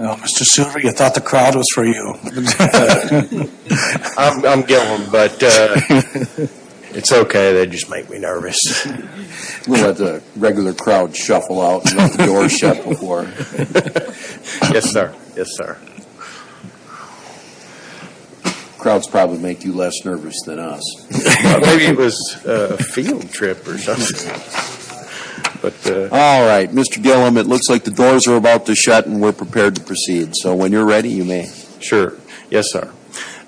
Well, Mr. Silver, you thought the crowd was for you. I'm Gilliam, but it's okay. They just make me nervous. We've had the regular crowd shuffle out and have the doors shut before. Yes, sir. Crowds probably make you less nervous than us. Maybe it was a field trip or something. All right, Mr. Gilliam, it looks like the doors are about to shut and we're prepared to proceed. So when you're ready, you may. Sure. Yes, sir.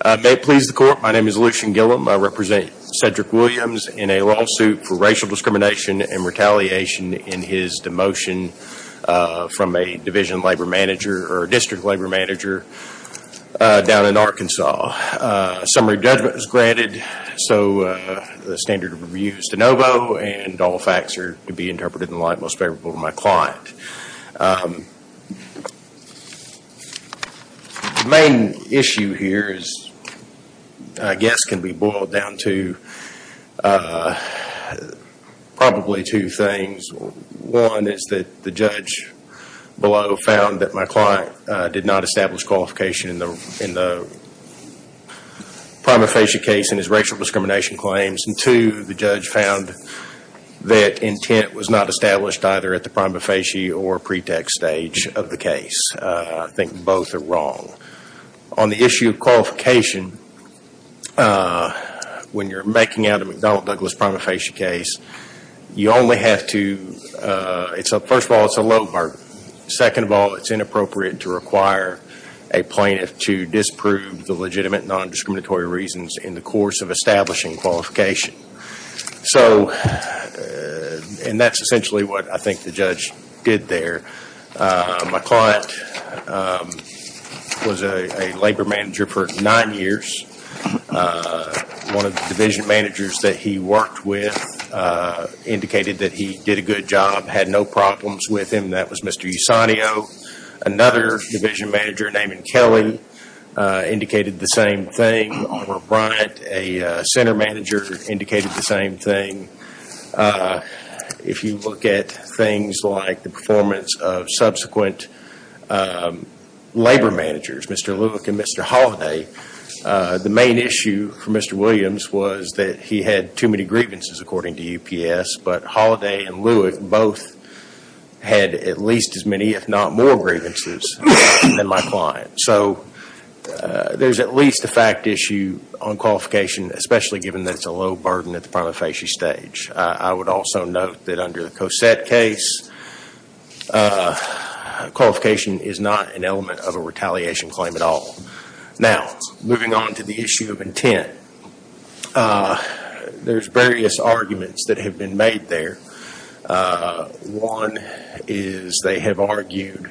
May it please the court, my name is Lucian Gilliam. I represent Cedric Williams in a lawsuit for racial discrimination and retaliation in his demotion from a division labor manager or district labor manager down in Arkansas. Summary judgment is granted, so the standard of review is de novo and all facts are to be interpreted in the light most favorable to my client. The main issue here, I guess, can be boiled down to probably two things. One is that the judge below found that my client did not establish qualification in the prima facie case in his racial discrimination claims. And two, the judge found that intent was not established either at the prima facie or pretext stage of the case. I think both are wrong. On the issue of qualification, when you're making out a McDonnell Douglas prima facie case, you only have to, first of all, it's a low bargain. Second of all, it's inappropriate to require a plaintiff to disprove the legitimate non-discriminatory reasons in the course of establishing qualification. So, and that's essentially what I think the judge did there. My client was a labor manager for nine years. One of the division managers that he worked with indicated that he did a good job, had no problems with him. That was Mr. Usanio. Another division manager named Kelly indicated the same thing. Over at Bryant, a center manager indicated the same thing. If you look at things like the performance of subsequent labor managers, Mr. Lewick and Mr. Holliday, the main issue for Mr. Williams was that he had too many grievances, according to UPS. But Holliday and Lewick both had at least as many, if not more, grievances than my client. So, there's at least a fact issue on qualification, especially given that it's a low burden at the prima facie stage. I would also note that under the Cosette case, qualification is not an element of a retaliation claim at all. Now, moving on to the issue of intent, there's various arguments that have been made there. One is they have argued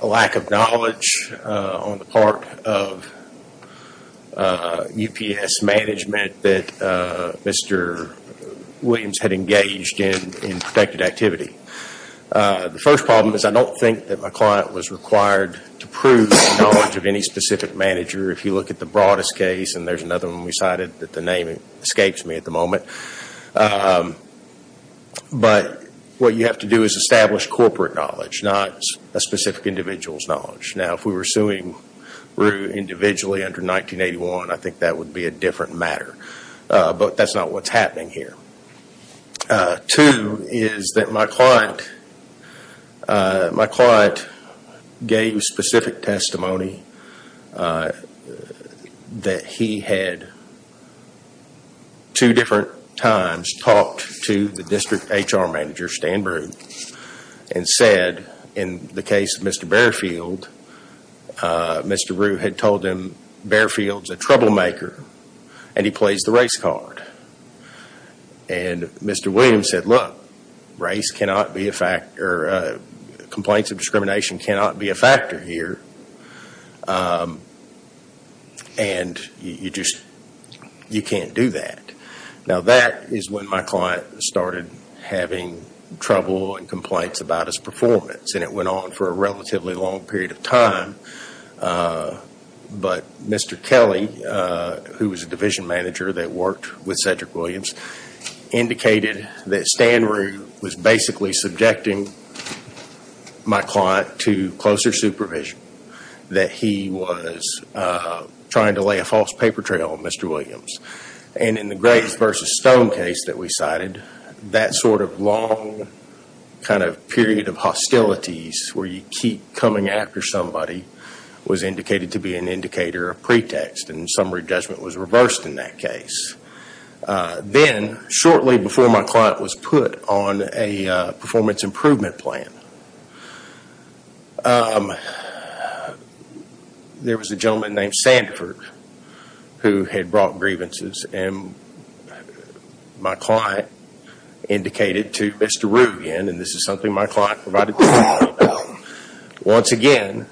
a lack of knowledge on the part of UPS management that Mr. Williams had engaged in protected activity. The first problem is I don't think that my client was required to prove the knowledge of any specific manager. If you look at the broadest case, and there's another one we cited that the name escapes me at the moment. But what you have to do is establish corporate knowledge, not a specific individual's knowledge. Now, if we were suing Rue individually under 1981, I think that would be a different matter. But that's not what's happening here. Two is that my client gave specific testimony that he had two different times talked to the district HR manager, Stan Rue, and said in the case of Mr. Barefield, Mr. Rue had told him Barefield's a troublemaker and he plays the race card. And Mr. Williams said, look, complaints of discrimination cannot be a factor here, and you can't do that. Now, that is when my client started having trouble and complaints about his performance. And it went on for a relatively long period of time. But Mr. Kelly, who was a division manager that worked with Cedric Williams, indicated that Stan Rue was basically subjecting my client to closer supervision, that he was trying to lay a false paper trail on Mr. Williams. And in the Graves versus Stone case that we cited, that sort of long kind of period of hostilities where you keep coming after somebody was indicated to be an indicator, a pretext, and summary judgment was reversed in that case. Then, shortly before my client was put on a performance improvement plan, there was a gentleman named Sandford who had brought grievances, and my client indicated to Mr. Rue again, and this is something my client provided testimony about, once again,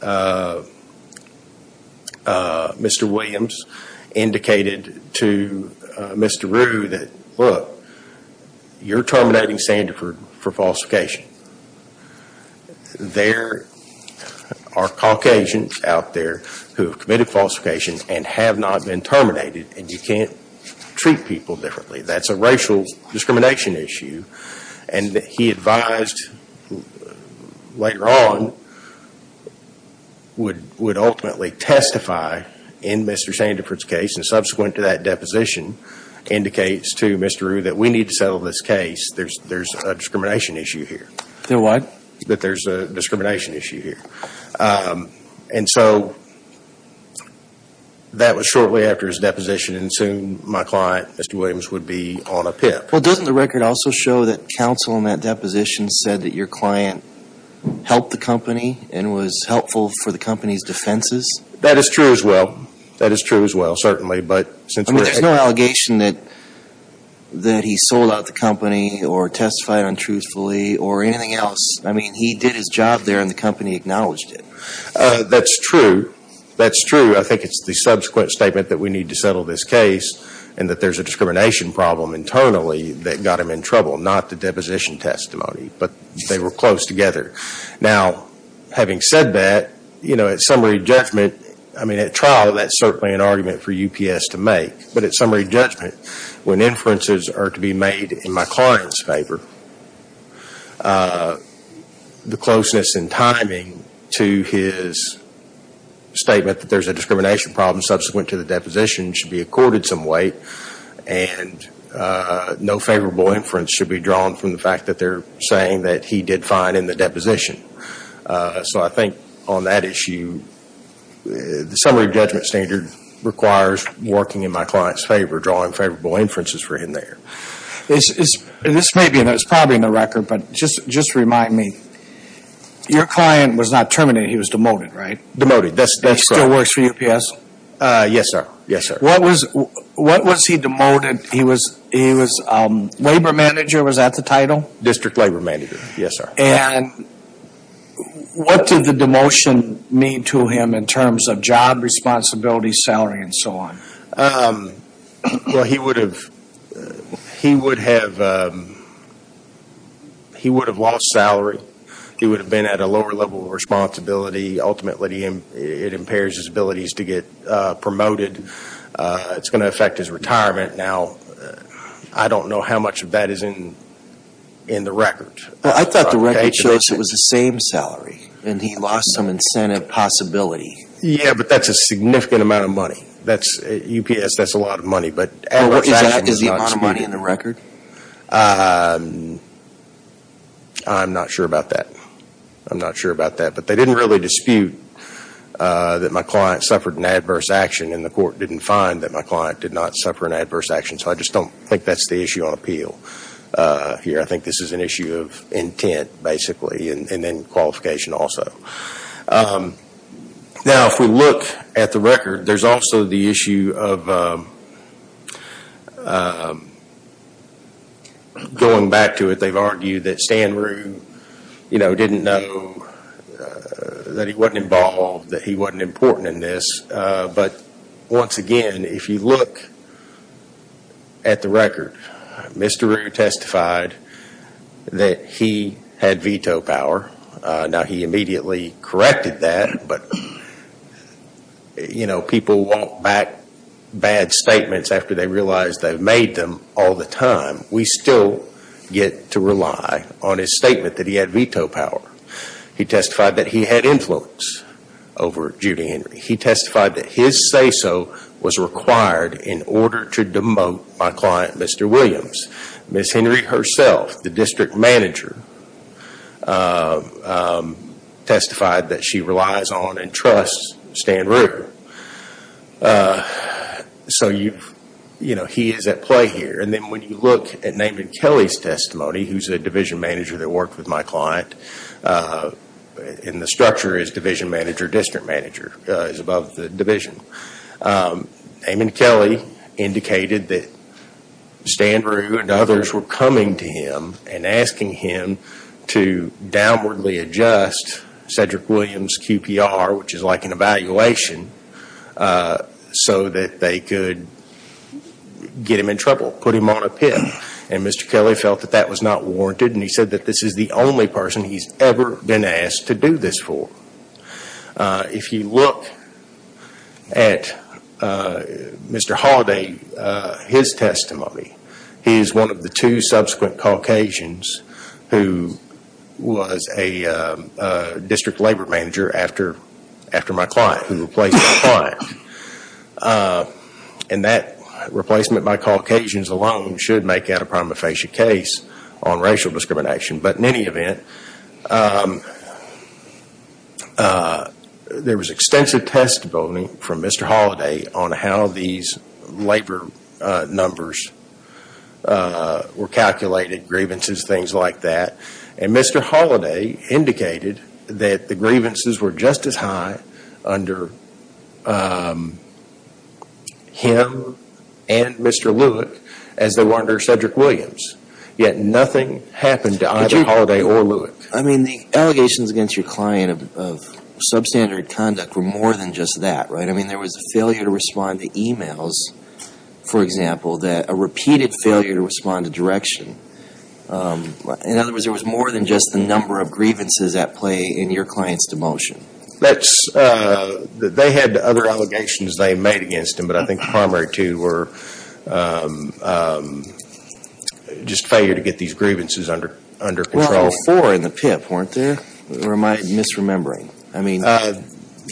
Mr. Williams indicated to Mr. Rue that, look, you're terminating Sandford for falsification. There are Caucasians out there who have committed falsification and have not been terminated, and you can't treat people differently. That's a racial discrimination issue. And he advised later on would ultimately testify in Mr. Sandford's case, and subsequent to that deposition indicates to Mr. Rue that we need to settle this case. There's a discrimination issue here. There what? That there's a discrimination issue here. And so that was shortly after his deposition, and soon my client, Mr. Williams, would be on a PIP. Well, doesn't the record also show that counsel in that deposition said that your client helped the company and was helpful for the company's defenses? That is true as well. That is true as well, certainly. I mean, there's no allegation that he sold out the company or testified untruthfully or anything else. I mean, he did his job there, and the company acknowledged it. That's true. That's true. I think it's the subsequent statement that we need to settle this case and that there's a discrimination problem internally that got him in trouble, not the deposition testimony, but they were close together. Now, having said that, you know, at summary judgment, I mean, at trial, that's certainly an argument for UPS to make, but at summary judgment, when inferences are to be made in my client's favor, the closeness in timing to his statement that there's a discrimination problem subsequent to the deposition should be accorded some weight, and no favorable inference should be drawn from the fact that they're saying that he did fine in the deposition. So I think on that issue, the summary judgment standard requires working in my client's favor, drawing favorable inferences for him there. This may be, and it's probably in the record, but just remind me. Your client was not terminated. He was demoted, right? Demoted. That still works for UPS? Yes, sir. Yes, sir. What was he demoted? He was labor manager. Was that the title? District labor manager. Yes, sir. And what did the demotion mean to him in terms of job responsibility, salary, and so on? Well, he would have lost salary. He would have been at a lower level of responsibility. Ultimately, it impairs his abilities to get promoted. It's going to affect his retirement. Now, I don't know how much of that is in the record. Well, I thought the record shows it was the same salary, and he lost some incentive possibility. Yeah, but that's a significant amount of money. At UPS, that's a lot of money. Is the amount of money in the record? I'm not sure about that. I'm not sure about that. But they didn't really dispute that my client suffered an adverse action, and the court didn't find that my client did not suffer an adverse action. So I just don't think that's the issue on appeal here. I think this is an issue of intent, basically, and then qualification also. Now, if we look at the record, there's also the issue of going back to it. They've argued that Stan Rue didn't know that he wasn't involved, that he wasn't important in this. But once again, if you look at the record, Mr. Rue testified that he had veto power. Now, he immediately corrected that, but, you know, people won't back bad statements after they realize they've made them all the time. We still get to rely on his statement that he had veto power. He testified that he had influence over Judy Henry. He testified that his say-so was required in order to demote my client, Mr. Williams. Ms. Henry herself, the district manager, testified that she relies on and trusts Stan Rue. So, you know, he is at play here. And then when you look at Naaman Kelly's testimony, who's a division manager that worked with my client, and the structure is division manager, district manager, is above the division. Naaman Kelly indicated that Stan Rue and others were coming to him and asking him to downwardly adjust Cedric Williams' QPR, which is like an evaluation, so that they could get him in trouble, put him on a pin. And Mr. Kelly felt that that was not warranted, and he said that this is the only person he's ever been asked to do this for. If you look at Mr. Holliday, his testimony, he is one of the two subsequent Caucasians who was a district labor manager after my client, who replaced my client. And that replacement by Caucasians alone should make out a prima facie case on racial discrimination. But in any event, there was extensive testimony from Mr. Holliday on how these labor numbers were calculated, grievances, things like that. And Mr. Holliday indicated that the grievances were just as high under him and Mr. Lewick as they were under Cedric Williams. Yet nothing happened to either Holliday or Lewick. I mean, the allegations against your client of substandard conduct were more than just that, right? I mean, there was a failure to respond to emails, for example, a repeated failure to respond to direction. In other words, there was more than just the number of grievances at play in your client's demotion. They had other allegations they made against him, but I think the primary two were just failure to get these grievances under control. Well, there were four in the PIP, weren't there? Or am I misremembering?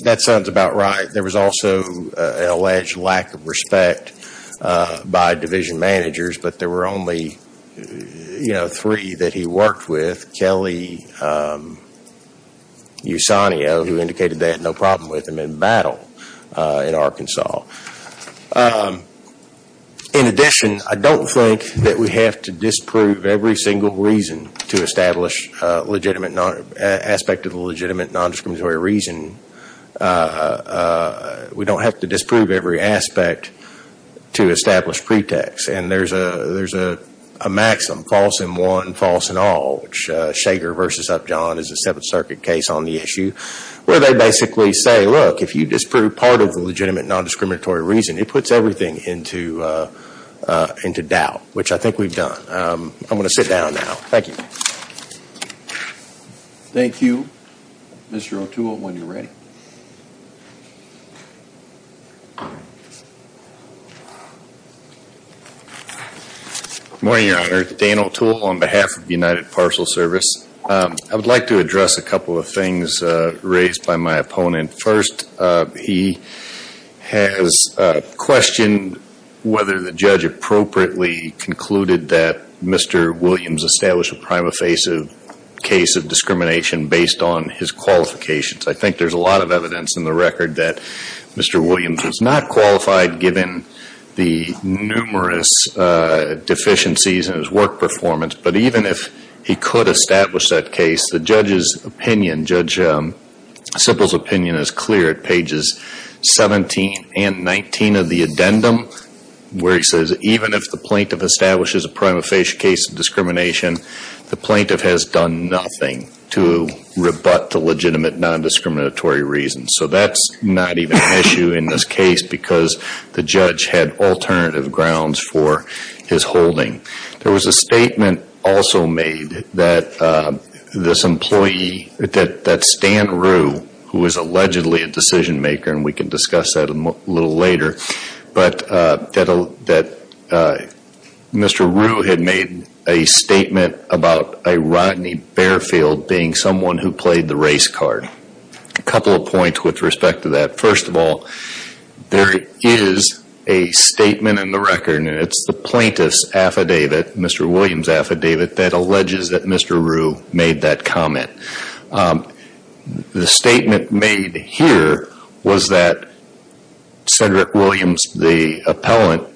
That sounds about right. There was also an alleged lack of respect by division managers, but there were only three that he worked with, Kelly, Usanio, who indicated they had no problem with him in battle in Arkansas. In addition, I don't think that we have to disprove every single reason to establish an aspect of a legitimate nondiscriminatory reason. We don't have to disprove every aspect to establish pretext. And there's a maxim, false in one, false in all, which Shaker versus Upjohn is a Seventh Circuit case on the issue, where they basically say, look, if you disprove part of the legitimate nondiscriminatory reason, it puts everything into doubt, which I think we've done. I'm going to sit down now. Thank you. Thank you. Mr. O'Toole, when you're ready. Good morning, Your Honor. Dan O'Toole on behalf of the United Parcel Service. I would like to address a couple of things raised by my opponent. First, he has questioned whether the judge appropriately concluded that Mr. Williams established a prima facie case of discrimination based on his qualifications. I think there's a lot of evidence in the record that Mr. Williams was not qualified, given the numerous deficiencies in his work performance. But even if he could establish that case, the judge's opinion, Judge Sibel's opinion, is clear at pages 17 and 19 of the addendum, where he says, even if the plaintiff establishes a prima facie case of discrimination, the plaintiff has done nothing to rebut the legitimate nondiscriminatory reason. So that's not even an issue in this case, because the judge had alternative grounds for his holding. There was a statement also made that this employee, that Stan Rue, who is allegedly a decision maker, and we can discuss that a little later, but that Mr. Rue had made a statement about a Rodney Barefield being someone who played the race card. A couple of points with respect to that. First of all, there is a statement in the record, and it's the plaintiff's affidavit, Mr. Williams' affidavit, that alleges that Mr. Rue made that comment. The statement made here was that Cedric Williams, the appellant,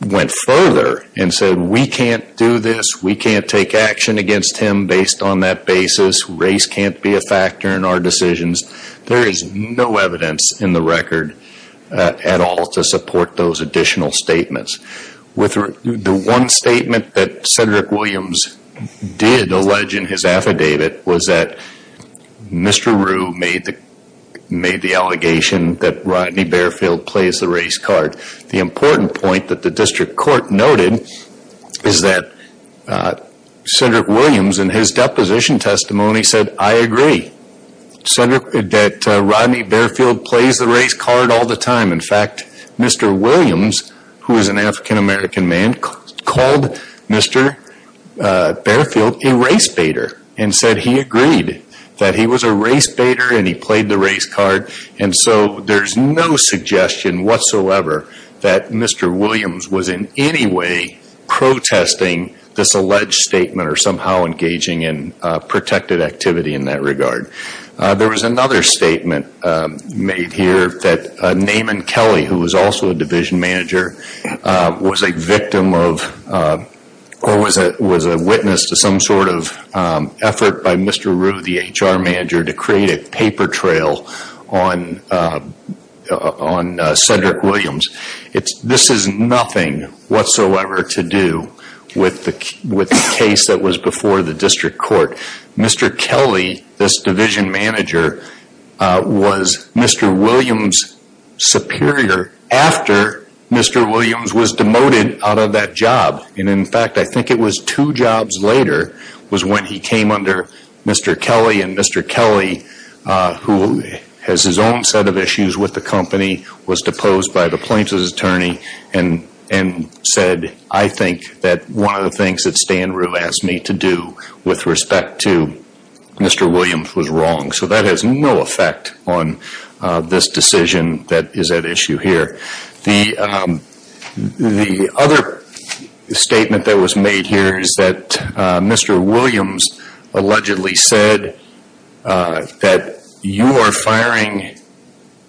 went further and said, we can't do this, we can't take action against him based on that basis, race can't be a factor in our decisions. There is no evidence in the record at all to support those additional statements. The one statement that Cedric Williams did allege in his affidavit was that Mr. Rue made the allegation that Rodney Barefield plays the race card. The important point that the district court noted is that Cedric Williams in his deposition testimony said, I agree that Rodney Barefield plays the race card all the time. In fact, Mr. Williams, who is an African American man, called Mr. Barefield a race baiter and said he agreed that he was a race baiter and he played the race card. There is no suggestion whatsoever that Mr. Williams was in any way protesting this alleged statement or somehow engaging in protected activity in that regard. There was another statement made here that Naaman Kelly, who was also a division manager, was a witness to some sort of effort by Mr. Rue, the HR manager, to create a paper trail on Cedric Williams. This has nothing whatsoever to do with the case that was before the district court. Mr. Kelly, this division manager, was Mr. Williams' superior after Mr. Williams was demoted out of that job. In fact, I think it was two jobs later when he came under Mr. Kelly. Mr. Kelly, who has his own set of issues with the company, was deposed by the plaintiff's attorney and said, I think that one of the things that Stan Rue asked me to do with respect to Mr. Williams was wrong. So that has no effect on this decision that is at issue here. The other statement that was made here is that Mr. Williams allegedly said that you are firing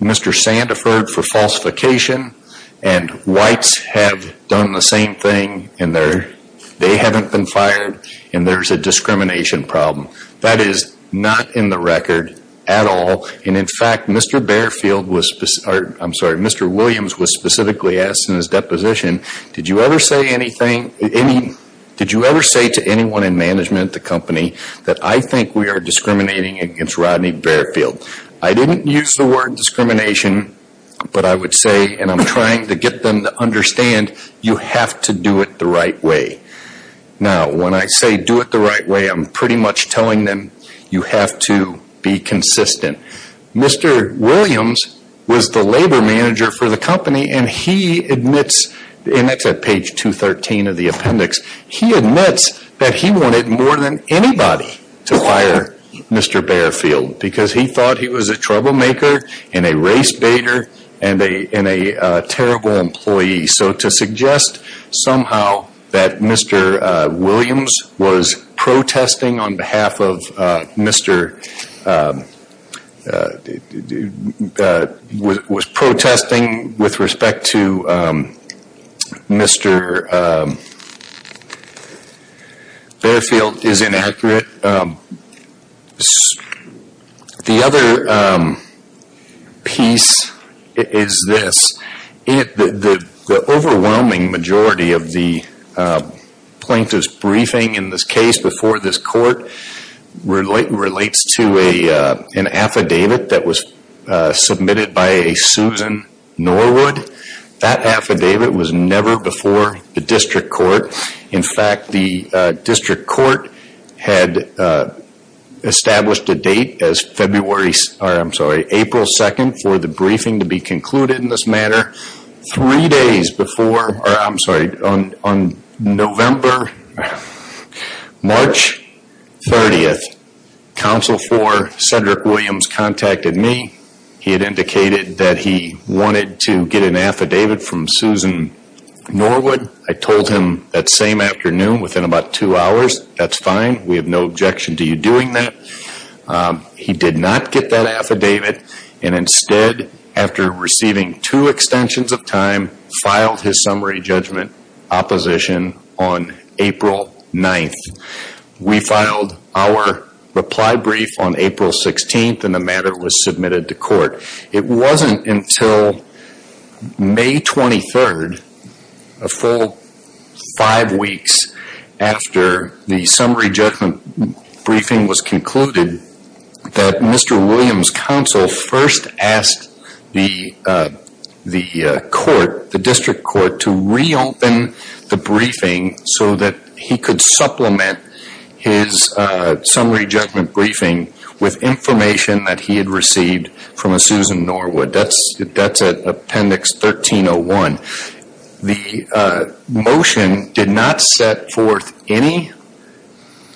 Mr. Sandiford for falsification and whites have done the same thing. They haven't been fired and there's a discrimination problem. That is not in the record at all. In fact, Mr. Williams was specifically asked in his deposition, did you ever say to anyone in management at the company that I think we are discriminating against Rodney Barefield? I didn't use the word discrimination, but I would say, and I'm trying to get them to understand, you have to do it the right way. Now, when I say do it the right way, I'm pretty much telling them you have to be consistent. Mr. Williams was the labor manager for the company and he admits, and that's at page 213 of the appendix, he admits that he wanted more than anybody to fire Mr. Barefield because he thought he was a troublemaker and a race baiter and a terrible employee. So to suggest somehow that Mr. Williams was protesting on behalf of Mr. was protesting with respect to Mr. Barefield is inaccurate. The other piece is this. The overwhelming majority of the plaintiff's briefing in this case before this court relates to an affidavit that was submitted by a Susan Norwood. That affidavit was never before the district court. In fact, the district court had established a date as April 2nd for the briefing to be concluded in this manner. Three days before, I'm sorry, on November, March 30th, counsel for Senator Williams contacted me. He had indicated that he wanted to get an affidavit from Susan Norwood. I told him that same afternoon, within about two hours, that's fine. We have no objection to you doing that. He did not get that affidavit and instead, after receiving two extensions of time, filed his summary judgment opposition on April 9th. We filed our reply brief on April 16th and the matter was submitted to court. It wasn't until May 23rd, a full five weeks after the summary judgment briefing was concluded, that Mr. Williams' counsel first asked the court, the district court, to reopen the briefing so that he could supplement his summary judgment briefing with information that he had received from a Susan Norwood. That's at appendix 1301. The motion did not set forth any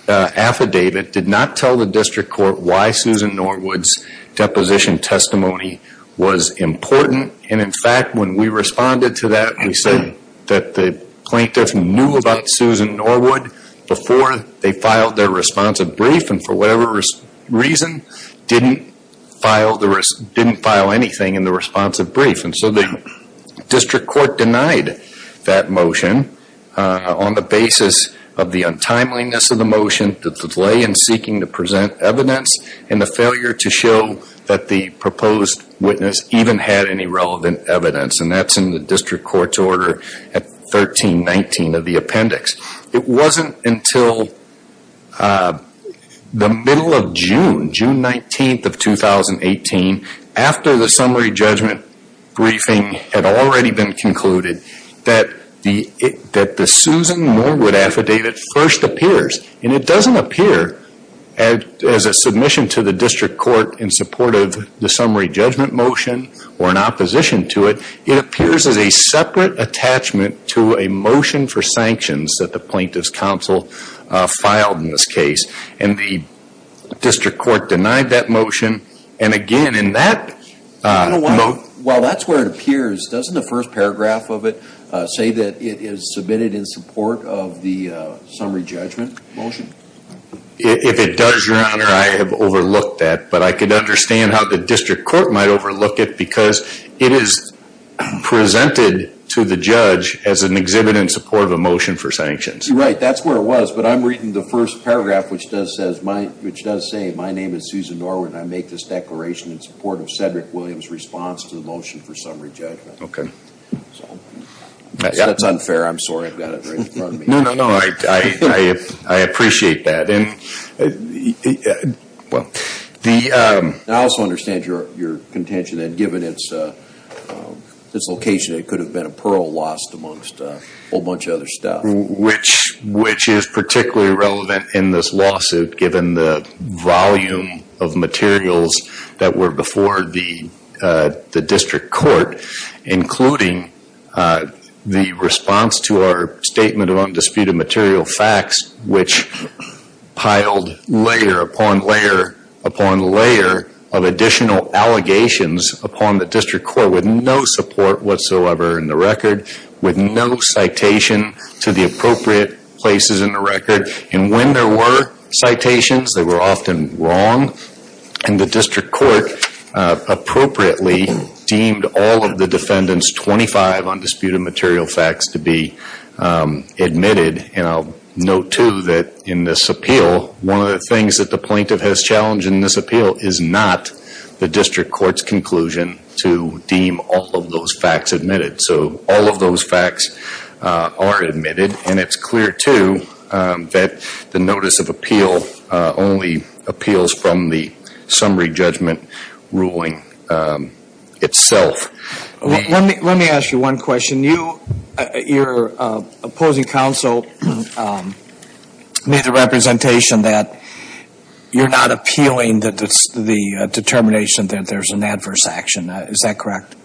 affidavit, did not tell the district court why Susan Norwood's deposition testimony was important. In fact, when we responded to that, we said that the plaintiff knew about Susan Norwood before they filed their responsive brief and, for whatever reason, didn't file anything in the responsive brief. The district court denied that motion on the basis of the untimeliness of the motion, the delay in seeking to present evidence, and the failure to show that the proposed witness even had any relevant evidence. That's in the district court's order at 1319 of the appendix. It wasn't until the middle of June, June 19th of 2018, after the summary judgment briefing had already been concluded, that the Susan Norwood affidavit first appears. And it doesn't appear as a submission to the district court in support of the summary judgment motion or in opposition to it. It appears as a separate attachment to a motion for sanctions that the plaintiff's counsel filed in this case. And the district court denied that motion. And again, in that... Well, that's where it appears. Doesn't the first paragraph of it say that it is submitted in support of the summary judgment motion? If it does, Your Honor, I have overlooked that. But I could understand how the district court might overlook it because it is presented to the judge as an exhibit in support of a motion for sanctions. Right. That's where it was. But I'm reading the first paragraph which does say, My name is Susan Norwood and I make this declaration in support of Cedric Williams' response to the motion for summary judgment. Okay. That's unfair. I'm sorry. I've got it right in front of me. No, no, no. I appreciate that. Well, the... I also understand your contention that given its location, it could have been a pearl lost amongst a whole bunch of other stuff. Which is particularly relevant in this lawsuit given the volume of materials that were before the district court, including the response to our statement of undisputed material facts, which piled layer upon layer upon layer of additional allegations upon the district court with no support whatsoever in the record, with no citation to the appropriate places in the record. And when there were citations, they were often wrong. And the district court appropriately deemed all of the defendant's 25 undisputed material facts to be admitted. And I'll note too that in this appeal, one of the things that the plaintiff has challenged in this appeal is not the district court's conclusion to deem all of those facts admitted. So all of those facts are admitted. And it's clear too that the notice of appeal only appeals from the summary judgment ruling itself. Let me ask you one question. Your opposing counsel made the representation that you're not appealing the determination that there's an adverse action. Is that correct?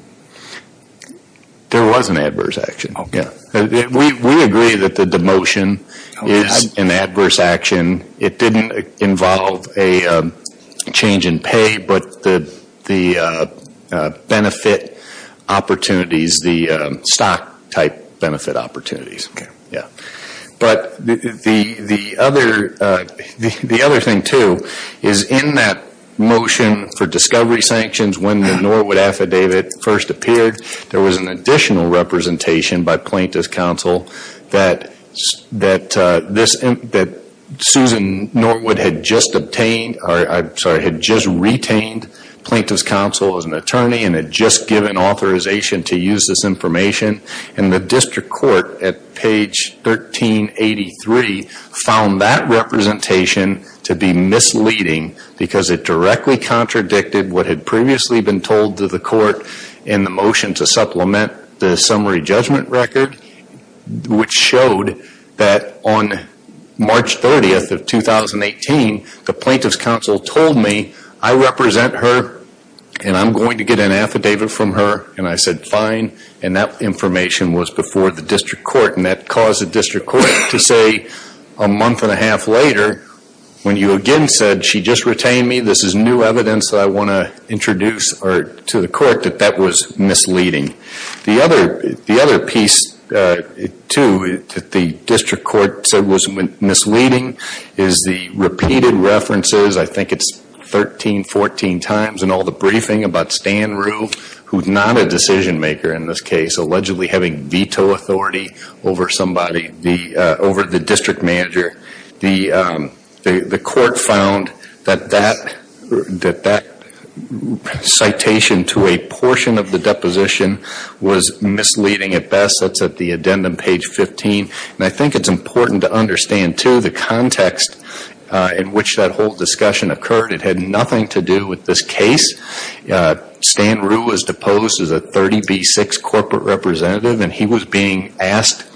There was an adverse action. Okay. We agree that the demotion is an adverse action. It didn't involve a change in pay, but the benefit opportunities, the stock type benefit opportunities. Okay. But the other thing too is in that motion for discovery sanctions, when the Norwood affidavit first appeared, there was an additional representation by plaintiff's counsel that Susan Norwood had just retained plaintiff's counsel as an attorney and had just given authorization to use this information. And the district court at page 1383 found that representation to be misleading because it directly contradicted what had previously been told to the court in the motion to supplement the summary judgment record, which showed that on March 30th of 2018, the plaintiff's counsel told me, I represent her and I'm going to get an affidavit from her. And I said, fine. And that information was before the district court. And that caused the district court to say a month and a half later, when you again said she just retained me, this is new evidence that I want to introduce to the court that that was misleading. The other piece too that the district court said was misleading is the repeated references, I think it's 13, 14 times in all the briefing about Stan Rue, who's not a decision maker in this case, allegedly having veto authority over somebody, over the district manager. The court found that that citation to a portion of the deposition was misleading at best. That's at the addendum, page 15. And I think it's important to understand too the context in which that whole discussion occurred. It had nothing to do with this case. Stan Rue was deposed as a 30B6 corporate representative and he was being asked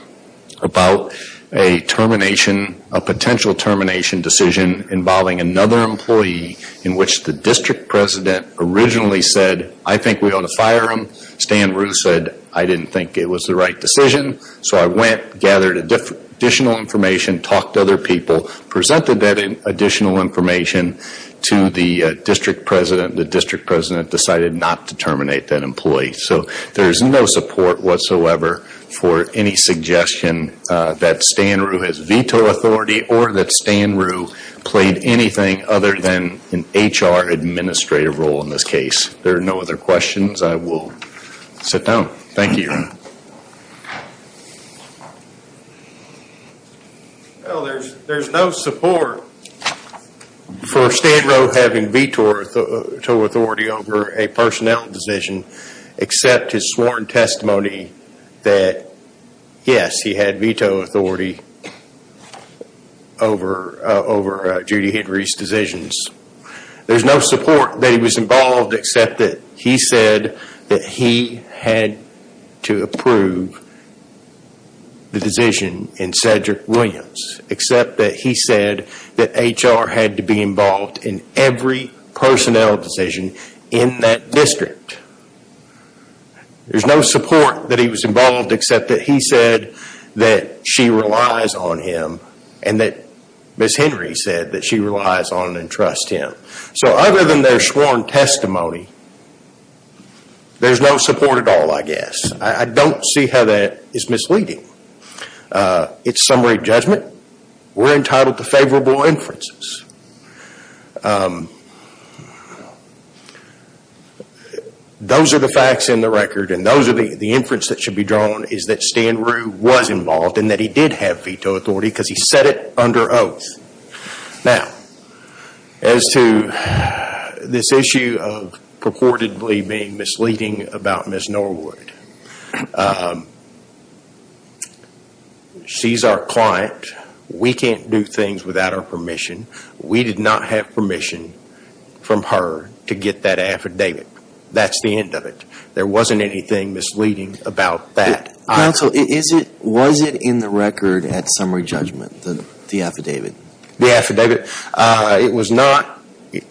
about a termination, a potential termination decision involving another employee in which the district president originally said, I think we ought to fire him. Stan Rue said, I didn't think it was the right decision. So I went, gathered additional information, talked to other people, presented that additional information to the district president. The district president decided not to terminate that employee. So there's no support whatsoever for any suggestion that Stan Rue has veto authority or that Stan Rue played anything other than an HR administrative role in this case. There are no other questions. I will sit down. Thank you. Thank you. Well, there's no support for Stan Rue having veto authority over a personnel decision except his sworn testimony that yes, he had veto authority over Judy Henry's decisions. There's no support that he was involved except that he said that he had to approve the decision in Cedric Williams. Except that he said that HR had to be involved in every personnel decision in that district. There's no support that he was involved except that he said that she relies on him and that Ms. Henry said that she relies on and trusts him. So other than their sworn testimony, there's no support at all, I guess. I don't see how that is misleading. It's summary judgment. We're entitled to favorable inferences. Those are the facts in the record and those are the inference that should be drawn is that Stan Rue was involved and that he did have veto authority because he said it under oath. Now, as to this issue of purportedly being misleading about Ms. Norwood, she's our client. We can't do things without our permission. We did not have permission from her to get that affidavit. That's the end of it. There wasn't anything misleading about that. Counsel, was it in the record at summary judgment, the affidavit? The affidavit, it was not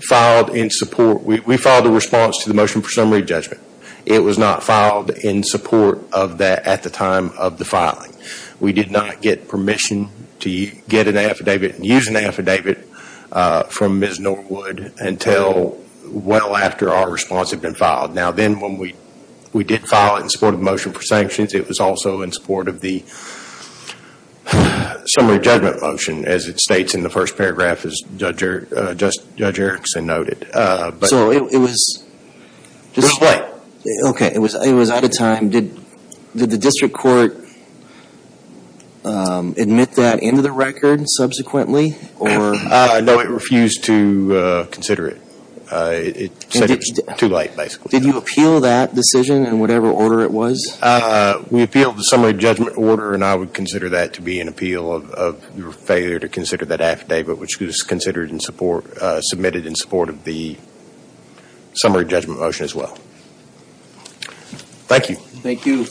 filed in support. We filed a response to the motion for summary judgment. It was not filed in support of that at the time of the filing. We did not get permission to get an affidavit and use an affidavit from Ms. Norwood until well after our response had been filed. Now, then when we did file it in support of the motion for sanctions, it was also in support of the summary judgment motion, as it states in the first paragraph, as Judge Erickson noted. It was out of time. Did the district court admit that into the record subsequently? No, it refused to consider it. It said it was too late, basically. Did you appeal that decision in whatever order it was? We appealed the summary judgment order, and I would consider that to be an appeal of your failure to consider that affidavit, which was submitted in support of the summary judgment motion as well. Thank you. Thank you.